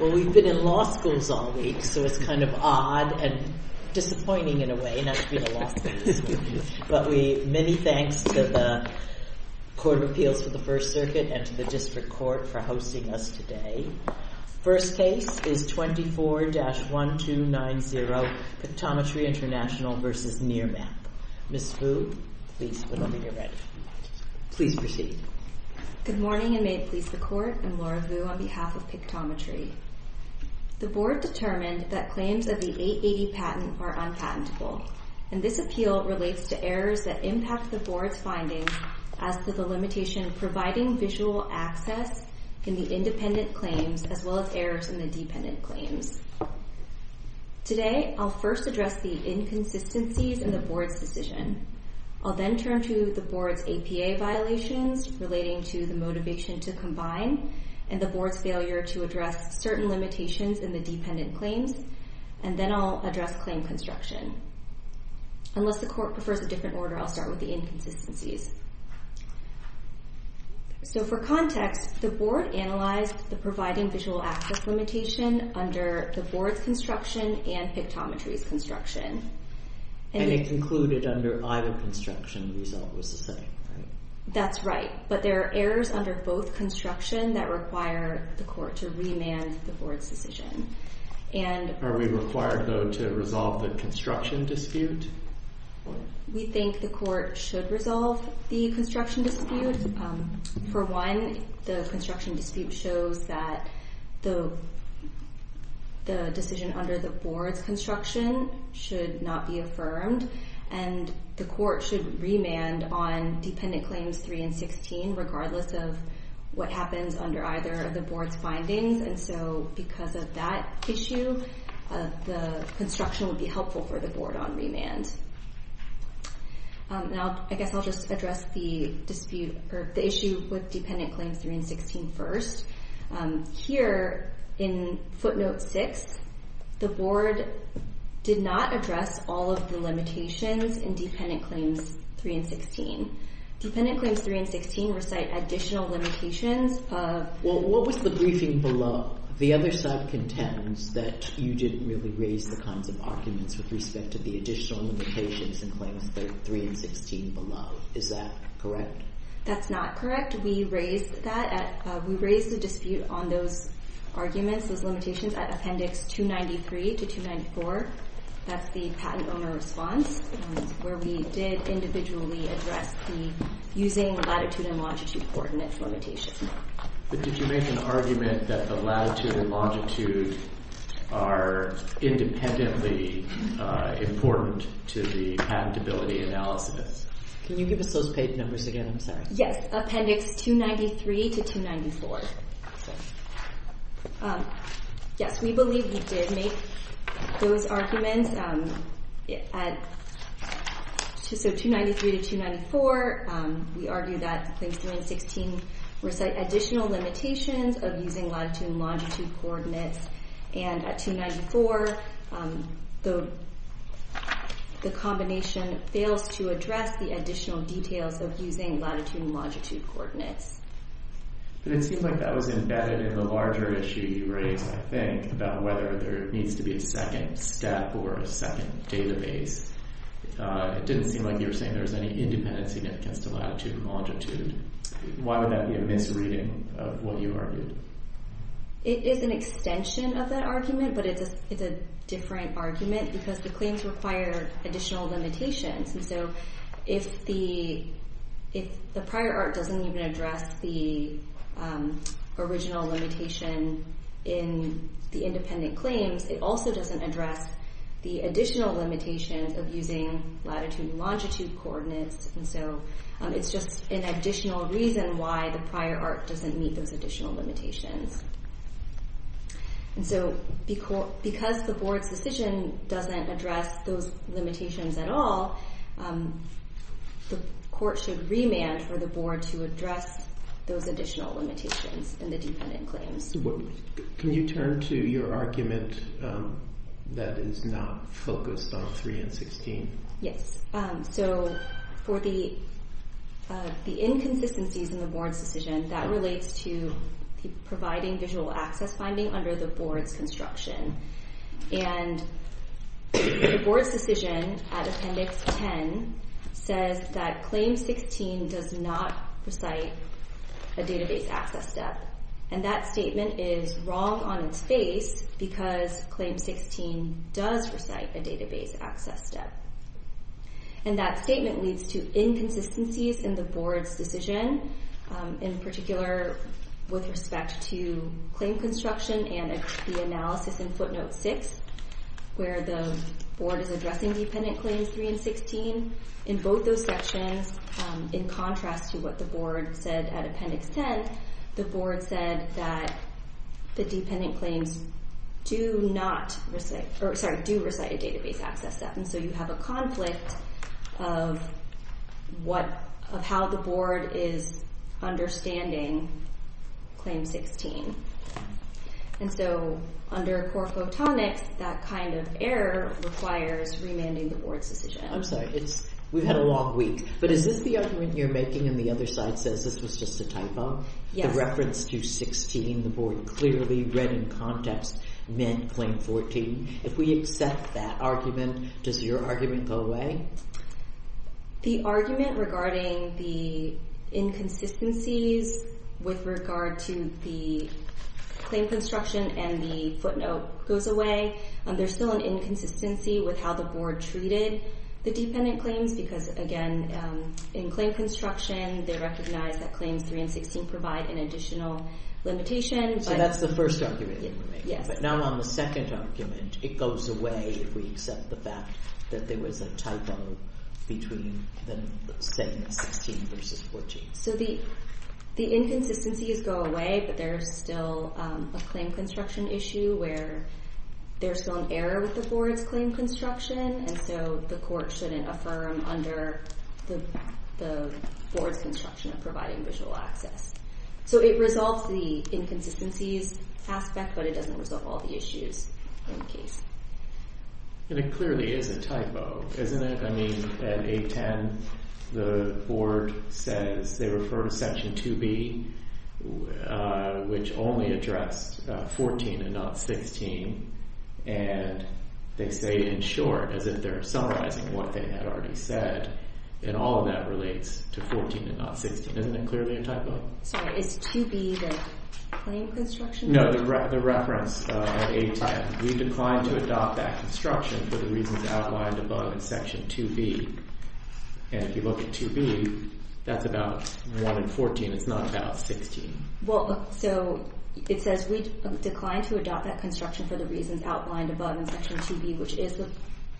Well, we've been in law schools all week, so it's kind of odd and disappointing in a way, not to be in a law school, but many thanks to the Court of Appeals for the First Circuit and to the District Court for hosting us today. First case is 24-1290, Pictometry International v. Nearmap. Ms. Vu, please, whenever you're ready. Please proceed. Good morning, and may it please the Court, I'm Laura Vu on behalf of Pictometry. The Board determined that claims of the 880 patent are unpatentable, and this appeal relates to errors that impact the Board's findings as to the limitation of providing visual access in the independent claims as well as errors in the dependent claims. Today, I'll first address the inconsistencies in the Board's decision. I'll then turn to the Board's APA violations relating to the motivation to combine and the Board's failure to address certain limitations in the dependent claims, and then I'll address claim construction. Unless the Court prefers a different order, I'll start with the inconsistencies. So for context, the Board analyzed the providing visual access limitation under the Board's construction and Pictometry's construction. And it concluded under either construction, the result was the same, right? That's right, but there are errors under both construction that require the Court to remand the Board's decision. Are we required, though, to resolve the construction dispute? We think the Court should resolve the construction dispute. For one, the construction dispute shows that the decision under the Board's construction should not be affirmed, and the Court should remand on dependent claims 3 and 16 regardless of what happens under either of the Board's findings. And so because of that issue, the construction would be helpful for the Board on remand. Now, I guess I'll just address the dispute, or the issue with dependent claims 3 and 16 first. Here in footnote 6, the Board did not address all of the limitations in dependent claims 3 and 16. Dependent claims 3 and 16 recite additional limitations of... Well, what was the briefing below? The other side contends that you didn't really raise the kinds of arguments with respect to the additional limitations in claims 3 and 16 below. Is that correct? That's not correct. We raised that. We raised the dispute on those arguments, those limitations, at Appendix 293 to 294. That's the patent owner response, where we did individually address the using latitude and longitude coordinates limitations. But did you make an argument that the latitude and longitude are independently important to the patentability analysis? Can you give us those page numbers again? I'm sorry. Yes, Appendix 293 to 294. Yes, we believe we did make those arguments. So, 293 to 294, we argue that claims 3 and 16 recite additional limitations of using latitude and longitude coordinates. And at 294, the combination fails to address the additional details of using latitude and longitude coordinates. But it seemed like that was embedded in the larger issue you raised, I think, about whether there needs to be a second step or a second database. It didn't seem like you were saying there was any independent significance to latitude and longitude. Why would that be a misreading of what you argued? It is an extension of that argument, but it's a different argument because the claims require additional limitations. And so, if the prior art doesn't even address the original limitation in the independent claims, it also doesn't address the additional limitations of using latitude and longitude coordinates. And so, it's just an additional reason why the prior art doesn't meet those additional limitations. And so, because the board's decision doesn't address those limitations at all, the court should remand for the board to address those additional limitations in the dependent claims. Can you turn to your argument that is not focused on 3 and 16? Yes. So, for the inconsistencies in the board's decision, that relates to providing visual access finding under the board's construction. And the board's decision at Appendix 10 says that Claim 16 does not recite a database access step. And that statement is wrong on its face because Claim 16 does recite a database access step. And that statement leads to inconsistencies in the board's decision, in particular with respect to claim construction and the analysis in Footnote 6, where the board is addressing dependent claims 3 and 16. In both those sections, in contrast to what the board said at Appendix 10, the board said that the dependent claims do not recite, or sorry, do recite a database access step. And so, you have a conflict of how the board is understanding Claim 16. And so, under core photonics, that kind of error requires remanding the board's decision. I'm sorry, we've had a long week. But is this the argument you're making and the other side says this was just a typo? The reference to 16, the board clearly read in context, meant Claim 14. If we accept that argument, does your argument go away? The argument regarding the inconsistencies with regard to the claim construction and the footnote goes away. There's still an inconsistency with how the board treated the dependent claims because, again, in claim construction, they recognize that Claims 3 and 16 provide an additional limitation. So that's the first argument you're making. But now on the second argument, it goes away if we accept the fact that there was a typo between the same 16 versus 14. So the inconsistencies go away, but there's still a claim construction issue where there's still an error with the board's claim construction. And so, the court shouldn't affirm under the board's construction of providing visual access. So it resolves the inconsistencies aspect, but it doesn't resolve all the issues in the case. And it clearly is a typo, isn't it? I mean, at 810, the board says they refer to Section 2B, which only addressed 14 and not 16. And they say in short, as if they're summarizing what they had already said. And all of that relates to 14 and not 16. Isn't it clearly a typo? Sorry. Is 2B the claim construction? No, the reference at 810. We declined to adopt that construction for the reasons outlined above in Section 2B. And if you look at 2B, that's about 1 and 14. It's not about 16. Well, so it says we declined to adopt that construction for the reasons outlined above in Section 2B, which is the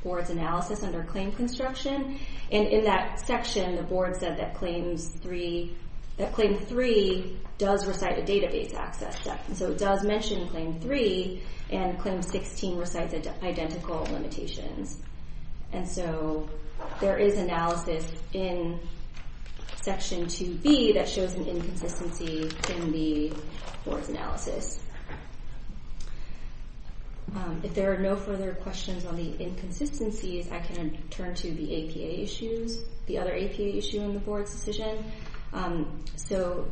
board's analysis under claim construction. And in that section, the board said that Claim 3 does recite a database access. So it does mention Claim 3, and Claim 16 recites identical limitations. And so there is analysis in Section 2B that shows an inconsistency in the board's analysis. If there are no further questions on the inconsistencies, I can turn to the APA issues, the other APA issue in the board's decision. So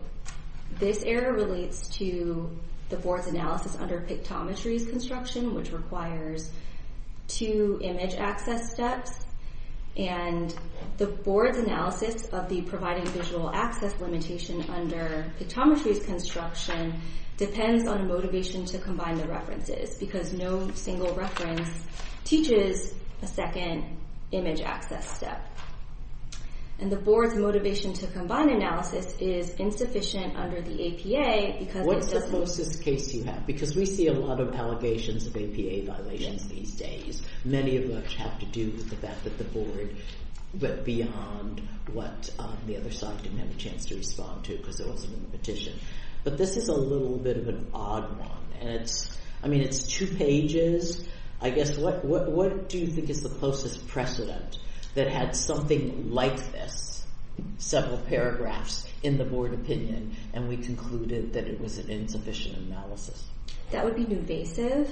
this error relates to the board's analysis under pictometries construction, which requires two image access steps. And the board's analysis of the providing visual access limitation under pictometries construction depends on a motivation to combine the references because no single reference teaches a second image access step. And the board's motivation to combine analysis is insufficient under the APA because it doesn't… What's the closest case you have? Because we see a lot of allegations of APA violations these days. Many of which have to do with the fact that the board went beyond what the other side didn't have a chance to respond to because there wasn't a petition. But this is a little bit of an odd one, and it's… I mean, it's two pages. I guess what do you think is the closest precedent that had something like this, several paragraphs in the board opinion, and we concluded that it was an insufficient analysis? That would be nuvasive.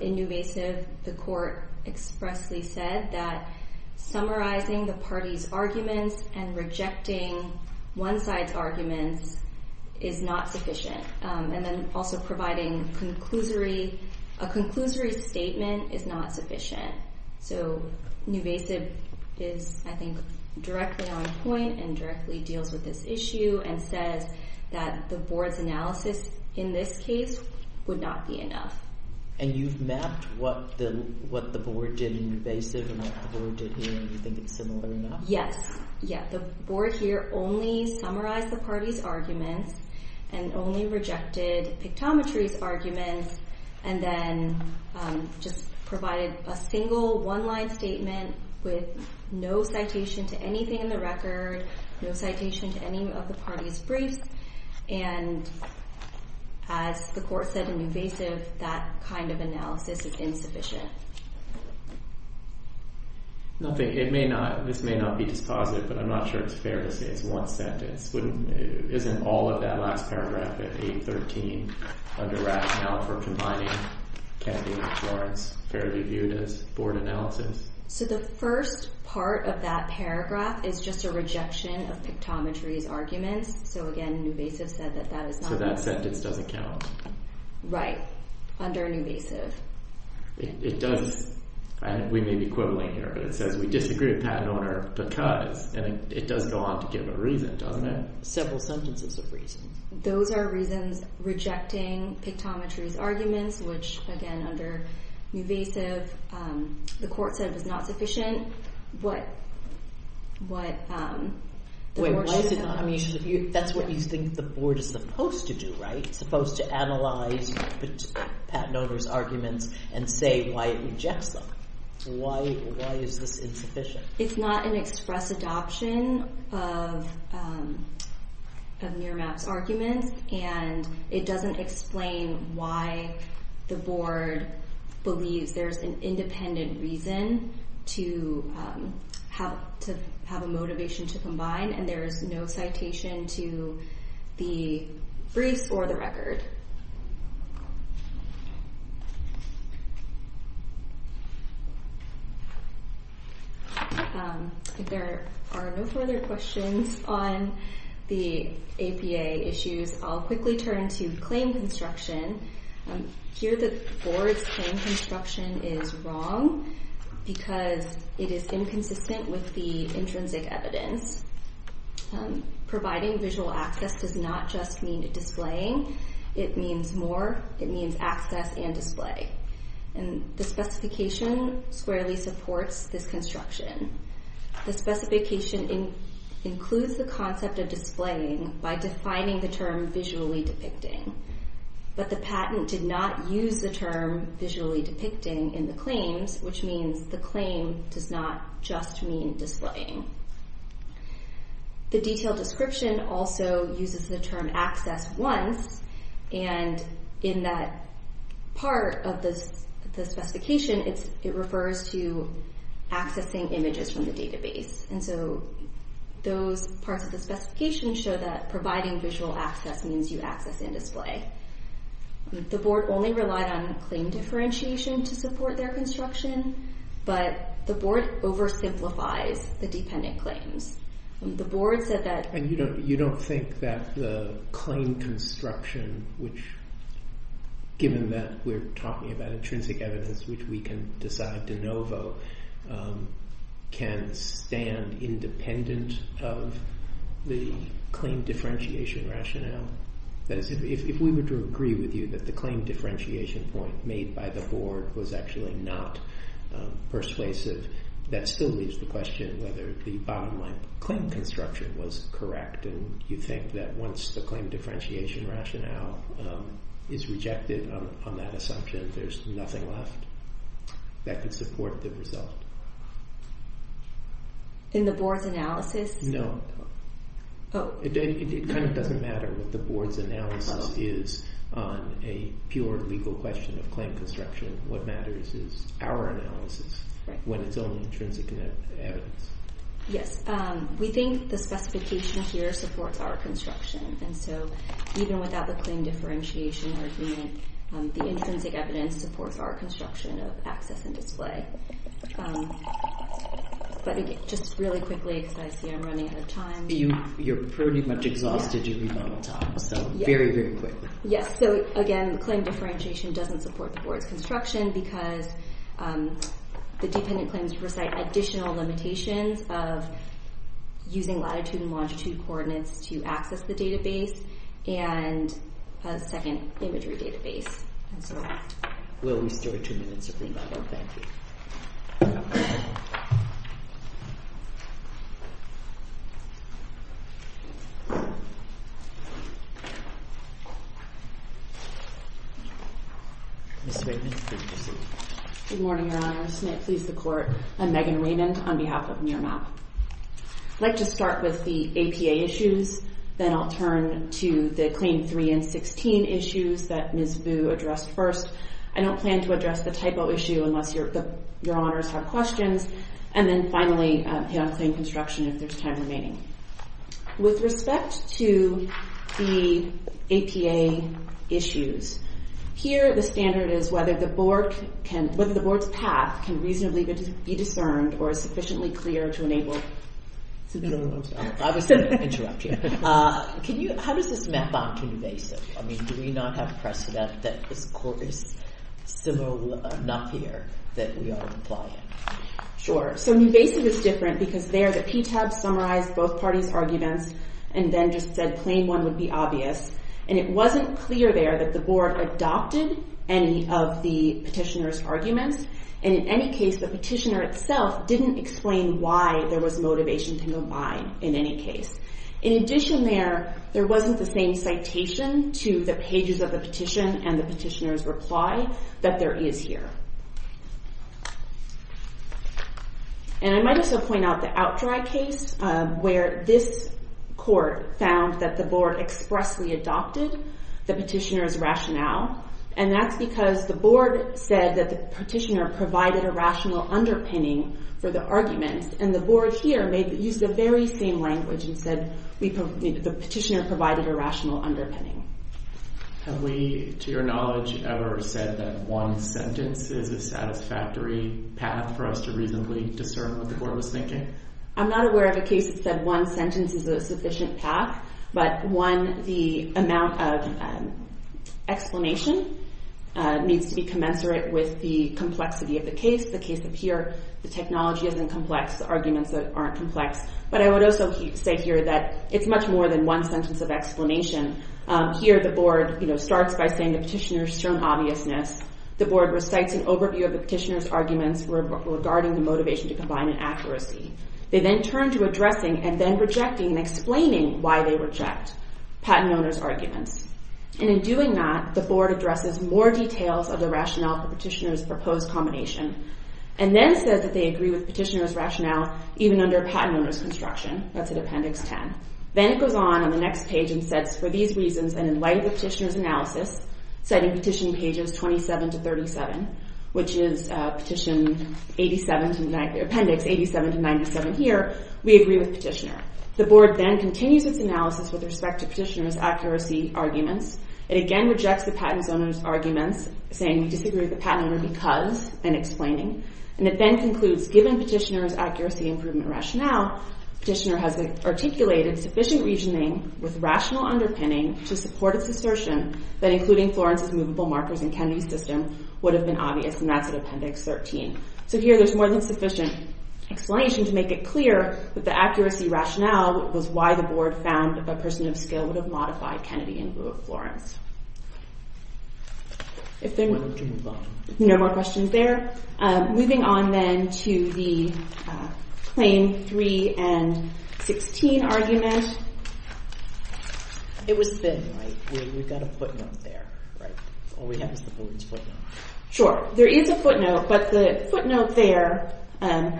In nuvasive, the court expressly said that summarizing the party's arguments and rejecting one side's arguments is not sufficient. And then also providing a conclusory statement is not sufficient. So nuvasive is, I think, directly on point and directly deals with this issue and says that the board's analysis in this case would not be enough. And you've mapped what the board did in nuvasive and what the board did here, and you think it's similar enough? Yes. Yeah. The board here only summarized the party's arguments and only rejected pictometry's arguments and then just provided a single one-line statement with no citation to anything in the record, no citation to any of the party's briefs. And as the court said in nuvasive, that kind of analysis is insufficient. This may not be dispositive, but I'm not sure it's fair to say it's one sentence. Isn't all of that last paragraph at 8.13 under rationale for combining Kennedy and Florence fairly viewed as board analysis? So the first part of that paragraph is just a rejection of pictometry's arguments. So again, nuvasive said that that is not enough. So that sentence doesn't count. Right. Under nuvasive. It does. We may be quibbling here, but it says we disagree with patent owner because, and it does go on to give a reason, doesn't it? Several sentences of reasons. Those are reasons rejecting pictometry's arguments, which, again, under nuvasive, the court said was not sufficient. Wait, why is it not? I mean, that's what you think the board is supposed to do, right? The board is supposed to analyze patent owner's arguments and say why it rejects them. Why is this insufficient? It's not an express adoption of NIRMAP's arguments, and it doesn't explain why the board believes there's an independent reason to have a motivation to combine, and there's no citation to the briefs or the record. If there are no further questions on the APA issues, I'll quickly turn to claim construction. Here the board's claim construction is wrong because it is inconsistent with the intrinsic evidence. Providing visual access does not just mean displaying. It means more. It means access and display. And the specification squarely supports this construction. The specification includes the concept of displaying by defining the term visually depicting. But the patent did not use the term visually depicting in the claims, which means the claim does not just mean displaying. The detailed description also uses the term access once, and in that part of the specification, it refers to accessing images from the database. Those parts of the specification show that providing visual access means you access and display. The board only relied on claim differentiation to support their construction, but the board oversimplifies the dependent claims. You don't think that the claim construction, which given that we're talking about intrinsic evidence which we can decide de novo, can stand independent of the claim differentiation rationale? That is, if we were to agree with you that the claim differentiation point made by the board was actually not persuasive, that still leaves the question whether the bottom line claim construction was correct. And you think that once the claim differentiation rationale is rejected on that assumption, there's nothing left that could support the result? In the board's analysis? No. Oh. It kind of doesn't matter what the board's analysis is on a pure legal question of claim construction. What matters is our analysis when it's only intrinsic evidence. Yes. We think the specification here supports our construction, and so even without the claim differentiation argument, the intrinsic evidence supports our construction of access and display. But again, just really quickly, because I see I'm running out of time. You're pretty much exhausted, Julie, by the time, so very, very quickly. Yes. So, again, the claim differentiation doesn't support the board's construction because the dependent claims recite additional limitations of using latitude and longitude coordinates to access the database and a second imagery database, and so on. We'll restore two minutes, Supreme Court. Thank you. Ms. Raymond, please proceed. Good morning, Your Honor. This may please the Court. I'm Megan Raymond on behalf of NIRMAP. I'd like to start with the APA issues. Then I'll turn to the Claim 3 and 16 issues that Ms. Vu addressed first. I don't plan to address the typo issue unless Your Honors have questions. And then, finally, the on-claim construction if there's time remaining. With respect to the APA issues, here the standard is whether the board's path can reasonably be discerned or is sufficiently clear to enable… I was going to interrupt you. How does this map onto NUVASIV? I mean, do we not have precedent that this Court is similar enough here that we are applying? Sure. So NUVASIV is different because there the PTAB summarized both parties' arguments and then just said plain one would be obvious. And it wasn't clear there that the board adopted any of the petitioner's arguments. And in any case, the petitioner itself didn't explain why there was motivation to go by in any case. In addition there, there wasn't the same citation to the pages of the petition and the petitioner's reply that there is here. And I might also point out the outdrag case where this Court found that the board expressly adopted the petitioner's rationale. And that's because the board said that the petitioner provided a rational underpinning for the arguments. And the board here used the very same language and said the petitioner provided a rational underpinning. Have we, to your knowledge, ever said that one sentence is a satisfactory path for us to reasonably discern what the board was thinking? I'm not aware of a case that said one sentence is a sufficient path, but one, the amount of explanation needs to be commensurate with the complexity of the case. The case up here, the technology isn't complex, the arguments aren't complex. But I would also say here that it's much more than one sentence of explanation. Here the board starts by saying the petitioner's shown obviousness. The board recites an overview of the petitioner's arguments regarding the motivation to combine an accuracy. They then turn to addressing and then rejecting and explaining why they reject patent owner's arguments. And in doing that, the board addresses more details of the rationale for petitioner's proposed combination. And then says that they agree with petitioner's rationale even under patent owner's construction. That's at Appendix 10. Then it goes on on the next page and sets for these reasons and in light of the petitioner's analysis, citing Petition Pages 27 to 37, which is Petition Appendix 87 to 97 here, we agree with petitioner. The board then continues its analysis with respect to petitioner's accuracy arguments. It again rejects the patent owner's arguments, saying we disagree with the patent owner because, and explaining. And it then concludes, given petitioner's accuracy improvement rationale, petitioner has articulated sufficient reasoning with rational underpinning to support its assertion that including Florence's movable markers in Kennedy's system would have been obvious. And that's at Appendix 13. So here there's more than sufficient explanation to make it clear that the accuracy rationale was why the board found that a person of skill would have modified Kennedy in lieu of Florence. If there are no more questions there, moving on then to the Claim 3 and 16 argument. It was spinning, right? We've got a footnote there, right? Or we have the board's footnote. Sure. There is a footnote, but the footnote there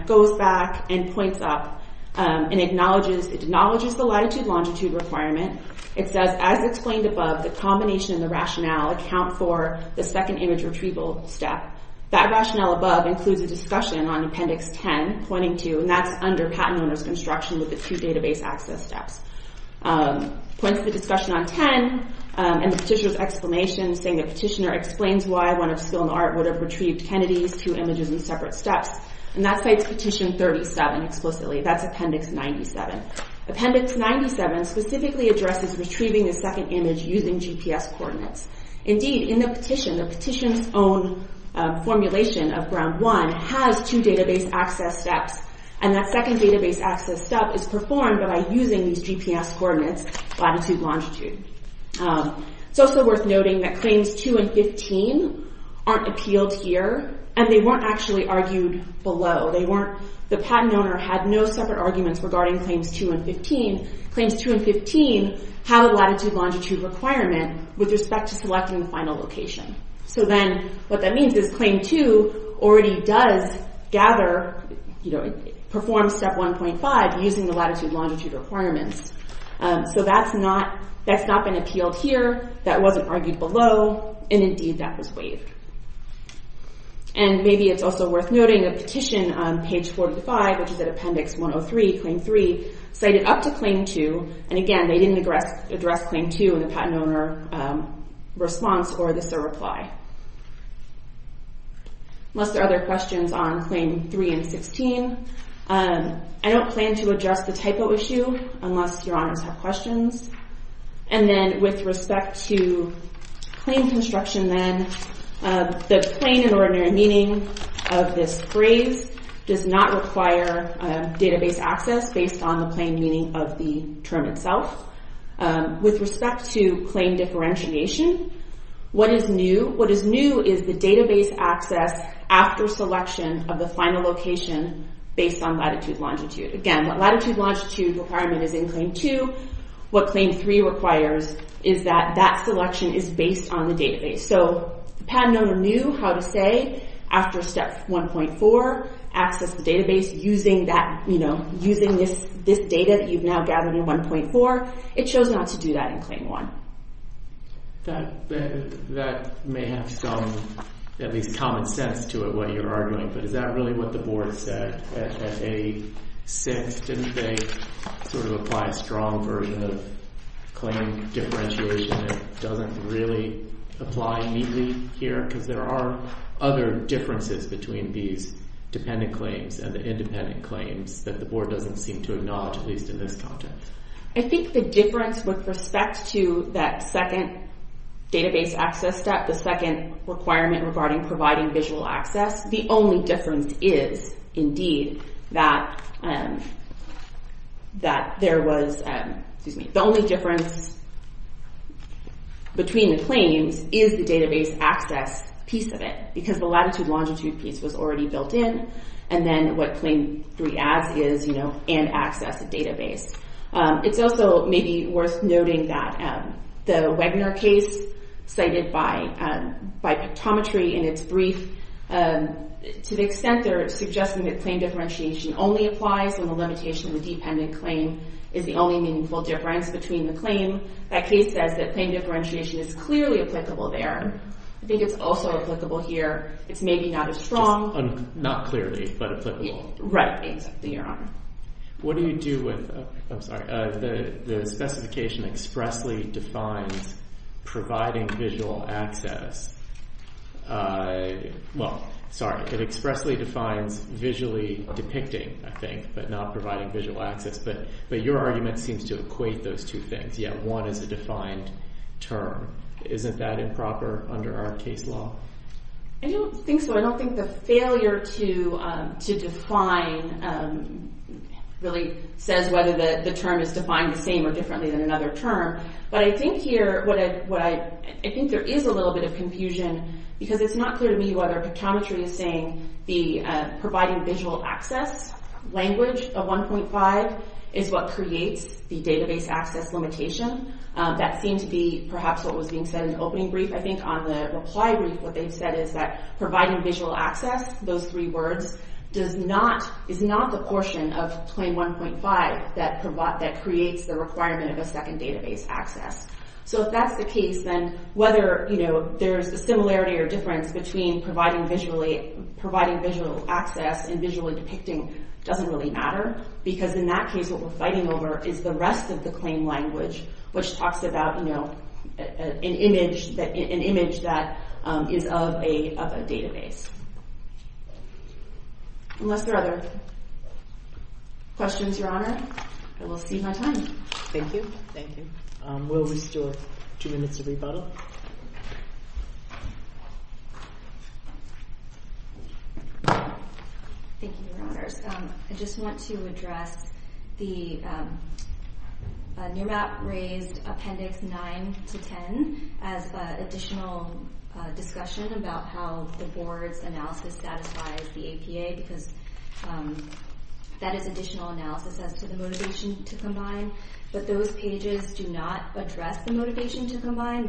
goes back and points up and acknowledges the latitude-longitude requirement. It says, as explained above, the combination of the rationale account for the second image retrieval step. That rationale above includes a discussion on Appendix 10, pointing to, and that's under patent owner's construction with the two database access steps. It points to the discussion on 10 and the petitioner's explanation, saying the petitioner explains why one of skill and art would have retrieved Kennedy's two images in separate steps. And that cites Petition 37 explicitly. That's Appendix 97. Appendix 97 specifically addresses retrieving the second image using GPS coordinates. Indeed, in the petition, the petition's own formulation of Ground 1 has two database access steps, and that second database access step is performed by using these GPS coordinates, latitude-longitude. It's also worth noting that Claims 2 and 15 aren't appealed here, and they weren't actually argued below. The patent owner had no separate arguments regarding Claims 2 and 15. Claims 2 and 15 have a latitude-longitude requirement with respect to selecting the final location. So then what that means is Claim 2 already does gather, you know, performs Step 1.5 using the latitude-longitude requirements. So that's not been appealed here, that wasn't argued below, and indeed that was waived. And maybe it's also worth noting a petition on Page 45, which is at Appendix 103, Claim 3, cited up to Claim 2, and again, they didn't address Claim 2 in the patent owner response or the SIR reply. Unless there are other questions on Claim 3 and 16. I don't plan to address the typo issue unless Your Honors have questions. And then with respect to claim construction, then, the plain and ordinary meaning of this phrase does not require database access based on the plain meaning of the term itself. With respect to claim differentiation, what is new is the database access after selection of the final location based on latitude-longitude. Again, what latitude-longitude requirement is in Claim 2, what Claim 3 requires is that that selection is based on the database. So the patent owner knew how to say, after Step 1.4, access the database using this data that you've now gathered in 1.4. It shows not to do that in Claim 1. That may have some, at least, common sense to it, what you're arguing, but is that really what the board said? At 8.6, didn't they sort of apply a strong version of claim differentiation that doesn't really apply neatly here? Because there are other differences between these dependent claims and independent claims that the board doesn't seem to acknowledge, at least in this context. I think the difference with respect to that second database access step, the second requirement regarding providing visual access, the only difference is, indeed, that there was, excuse me, the only difference between the claims is the database access piece of it, because the latitude-longitude piece was already built in, and then what Claim 3 adds is, you know, and access a database. It's also maybe worth noting that the Webinar case cited by Pictometry in its brief to the extent they're suggesting that claim differentiation only applies and the limitation of the dependent claim is the only meaningful difference between the claim, that case says that claim differentiation is clearly applicable there. I think it's also applicable here. It's maybe not as strong. Not clearly, but applicable. Right, exactly, Your Honor. What do you do with, I'm sorry, the specification expressly defines providing visual access. Well, sorry, it expressly defines visually depicting, I think, but not providing visual access. But your argument seems to equate those two things. Yeah, one is a defined term. Isn't that improper under our case law? I don't think so. I don't think the failure to define really says whether the term is defined the same or differently than another term, but I think here what I, I think there is a little bit of confusion because it's not clear to me whether Pictometry is saying the providing visual access language of 1.5 is what creates the database access limitation. That seemed to be perhaps what was being said in the opening brief, I think. On the reply brief, what they've said is that providing visual access, those three words, does not, is not the portion of claim 1.5 that creates the requirement of a second database access. So if that's the case, then whether, you know, there's a similarity or difference between providing visually, providing visual access and visually depicting doesn't really matter because in that case what we're fighting over is the rest of the claim language, which talks about, you know, an image that is of a database. Unless there are other questions, Your Honor, I will cede my time. Thank you. Thank you. We'll restore two minutes of rebuttal. Thank you, Your Honors. I just want to address the NMAAP-raised Appendix 9-10 as additional discussion about how the Board's analysis satisfies the APA because that is additional analysis as to the motivation to combine. But those pages do not address the motivation to combine.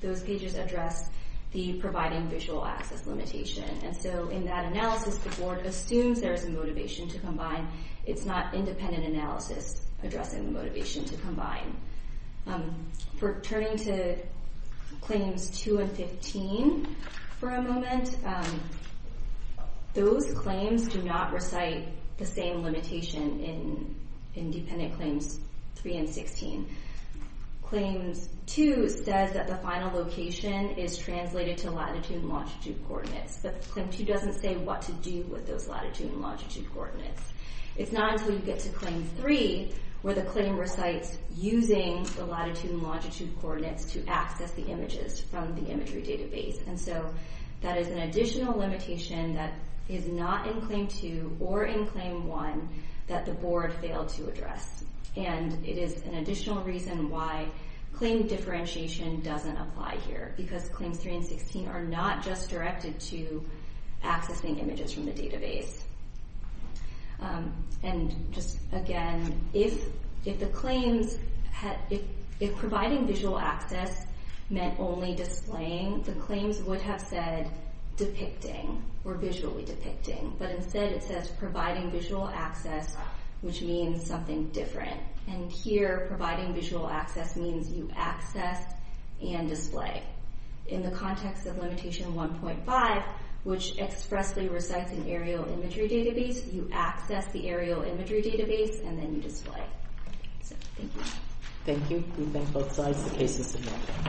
Those pages address the providing visual access limitation. And so in that analysis, the Board assumes there is a motivation to combine. It's not independent analysis addressing the motivation to combine. For turning to Claims 2 and 15 for a moment, those claims do not recite the same limitation in Independent Claims 3 and 16. Claims 2 says that the final location is translated to latitude and longitude coordinates. But Claim 2 doesn't say what to do with those latitude and longitude coordinates. It's not until you get to Claim 3 where the claim recites using the latitude and longitude coordinates to access the images from the imagery database. And so that is an additional limitation that is not in Claim 2 or in Claim 1 that the Board failed to address. And it is an additional reason why claim differentiation doesn't apply here because Claims 3 and 16 are not just directed to accessing images from the database. And just again, if providing visual access meant only displaying, the claims would have said depicting or visually depicting. But instead it says providing visual access, which means something different. And here providing visual access means you access and display. In the context of Limitation 1.5, which expressly recites an aerial imagery database, you access the aerial imagery database and then you display. So thank you. Thank you. We thank both sides. The case is submitted.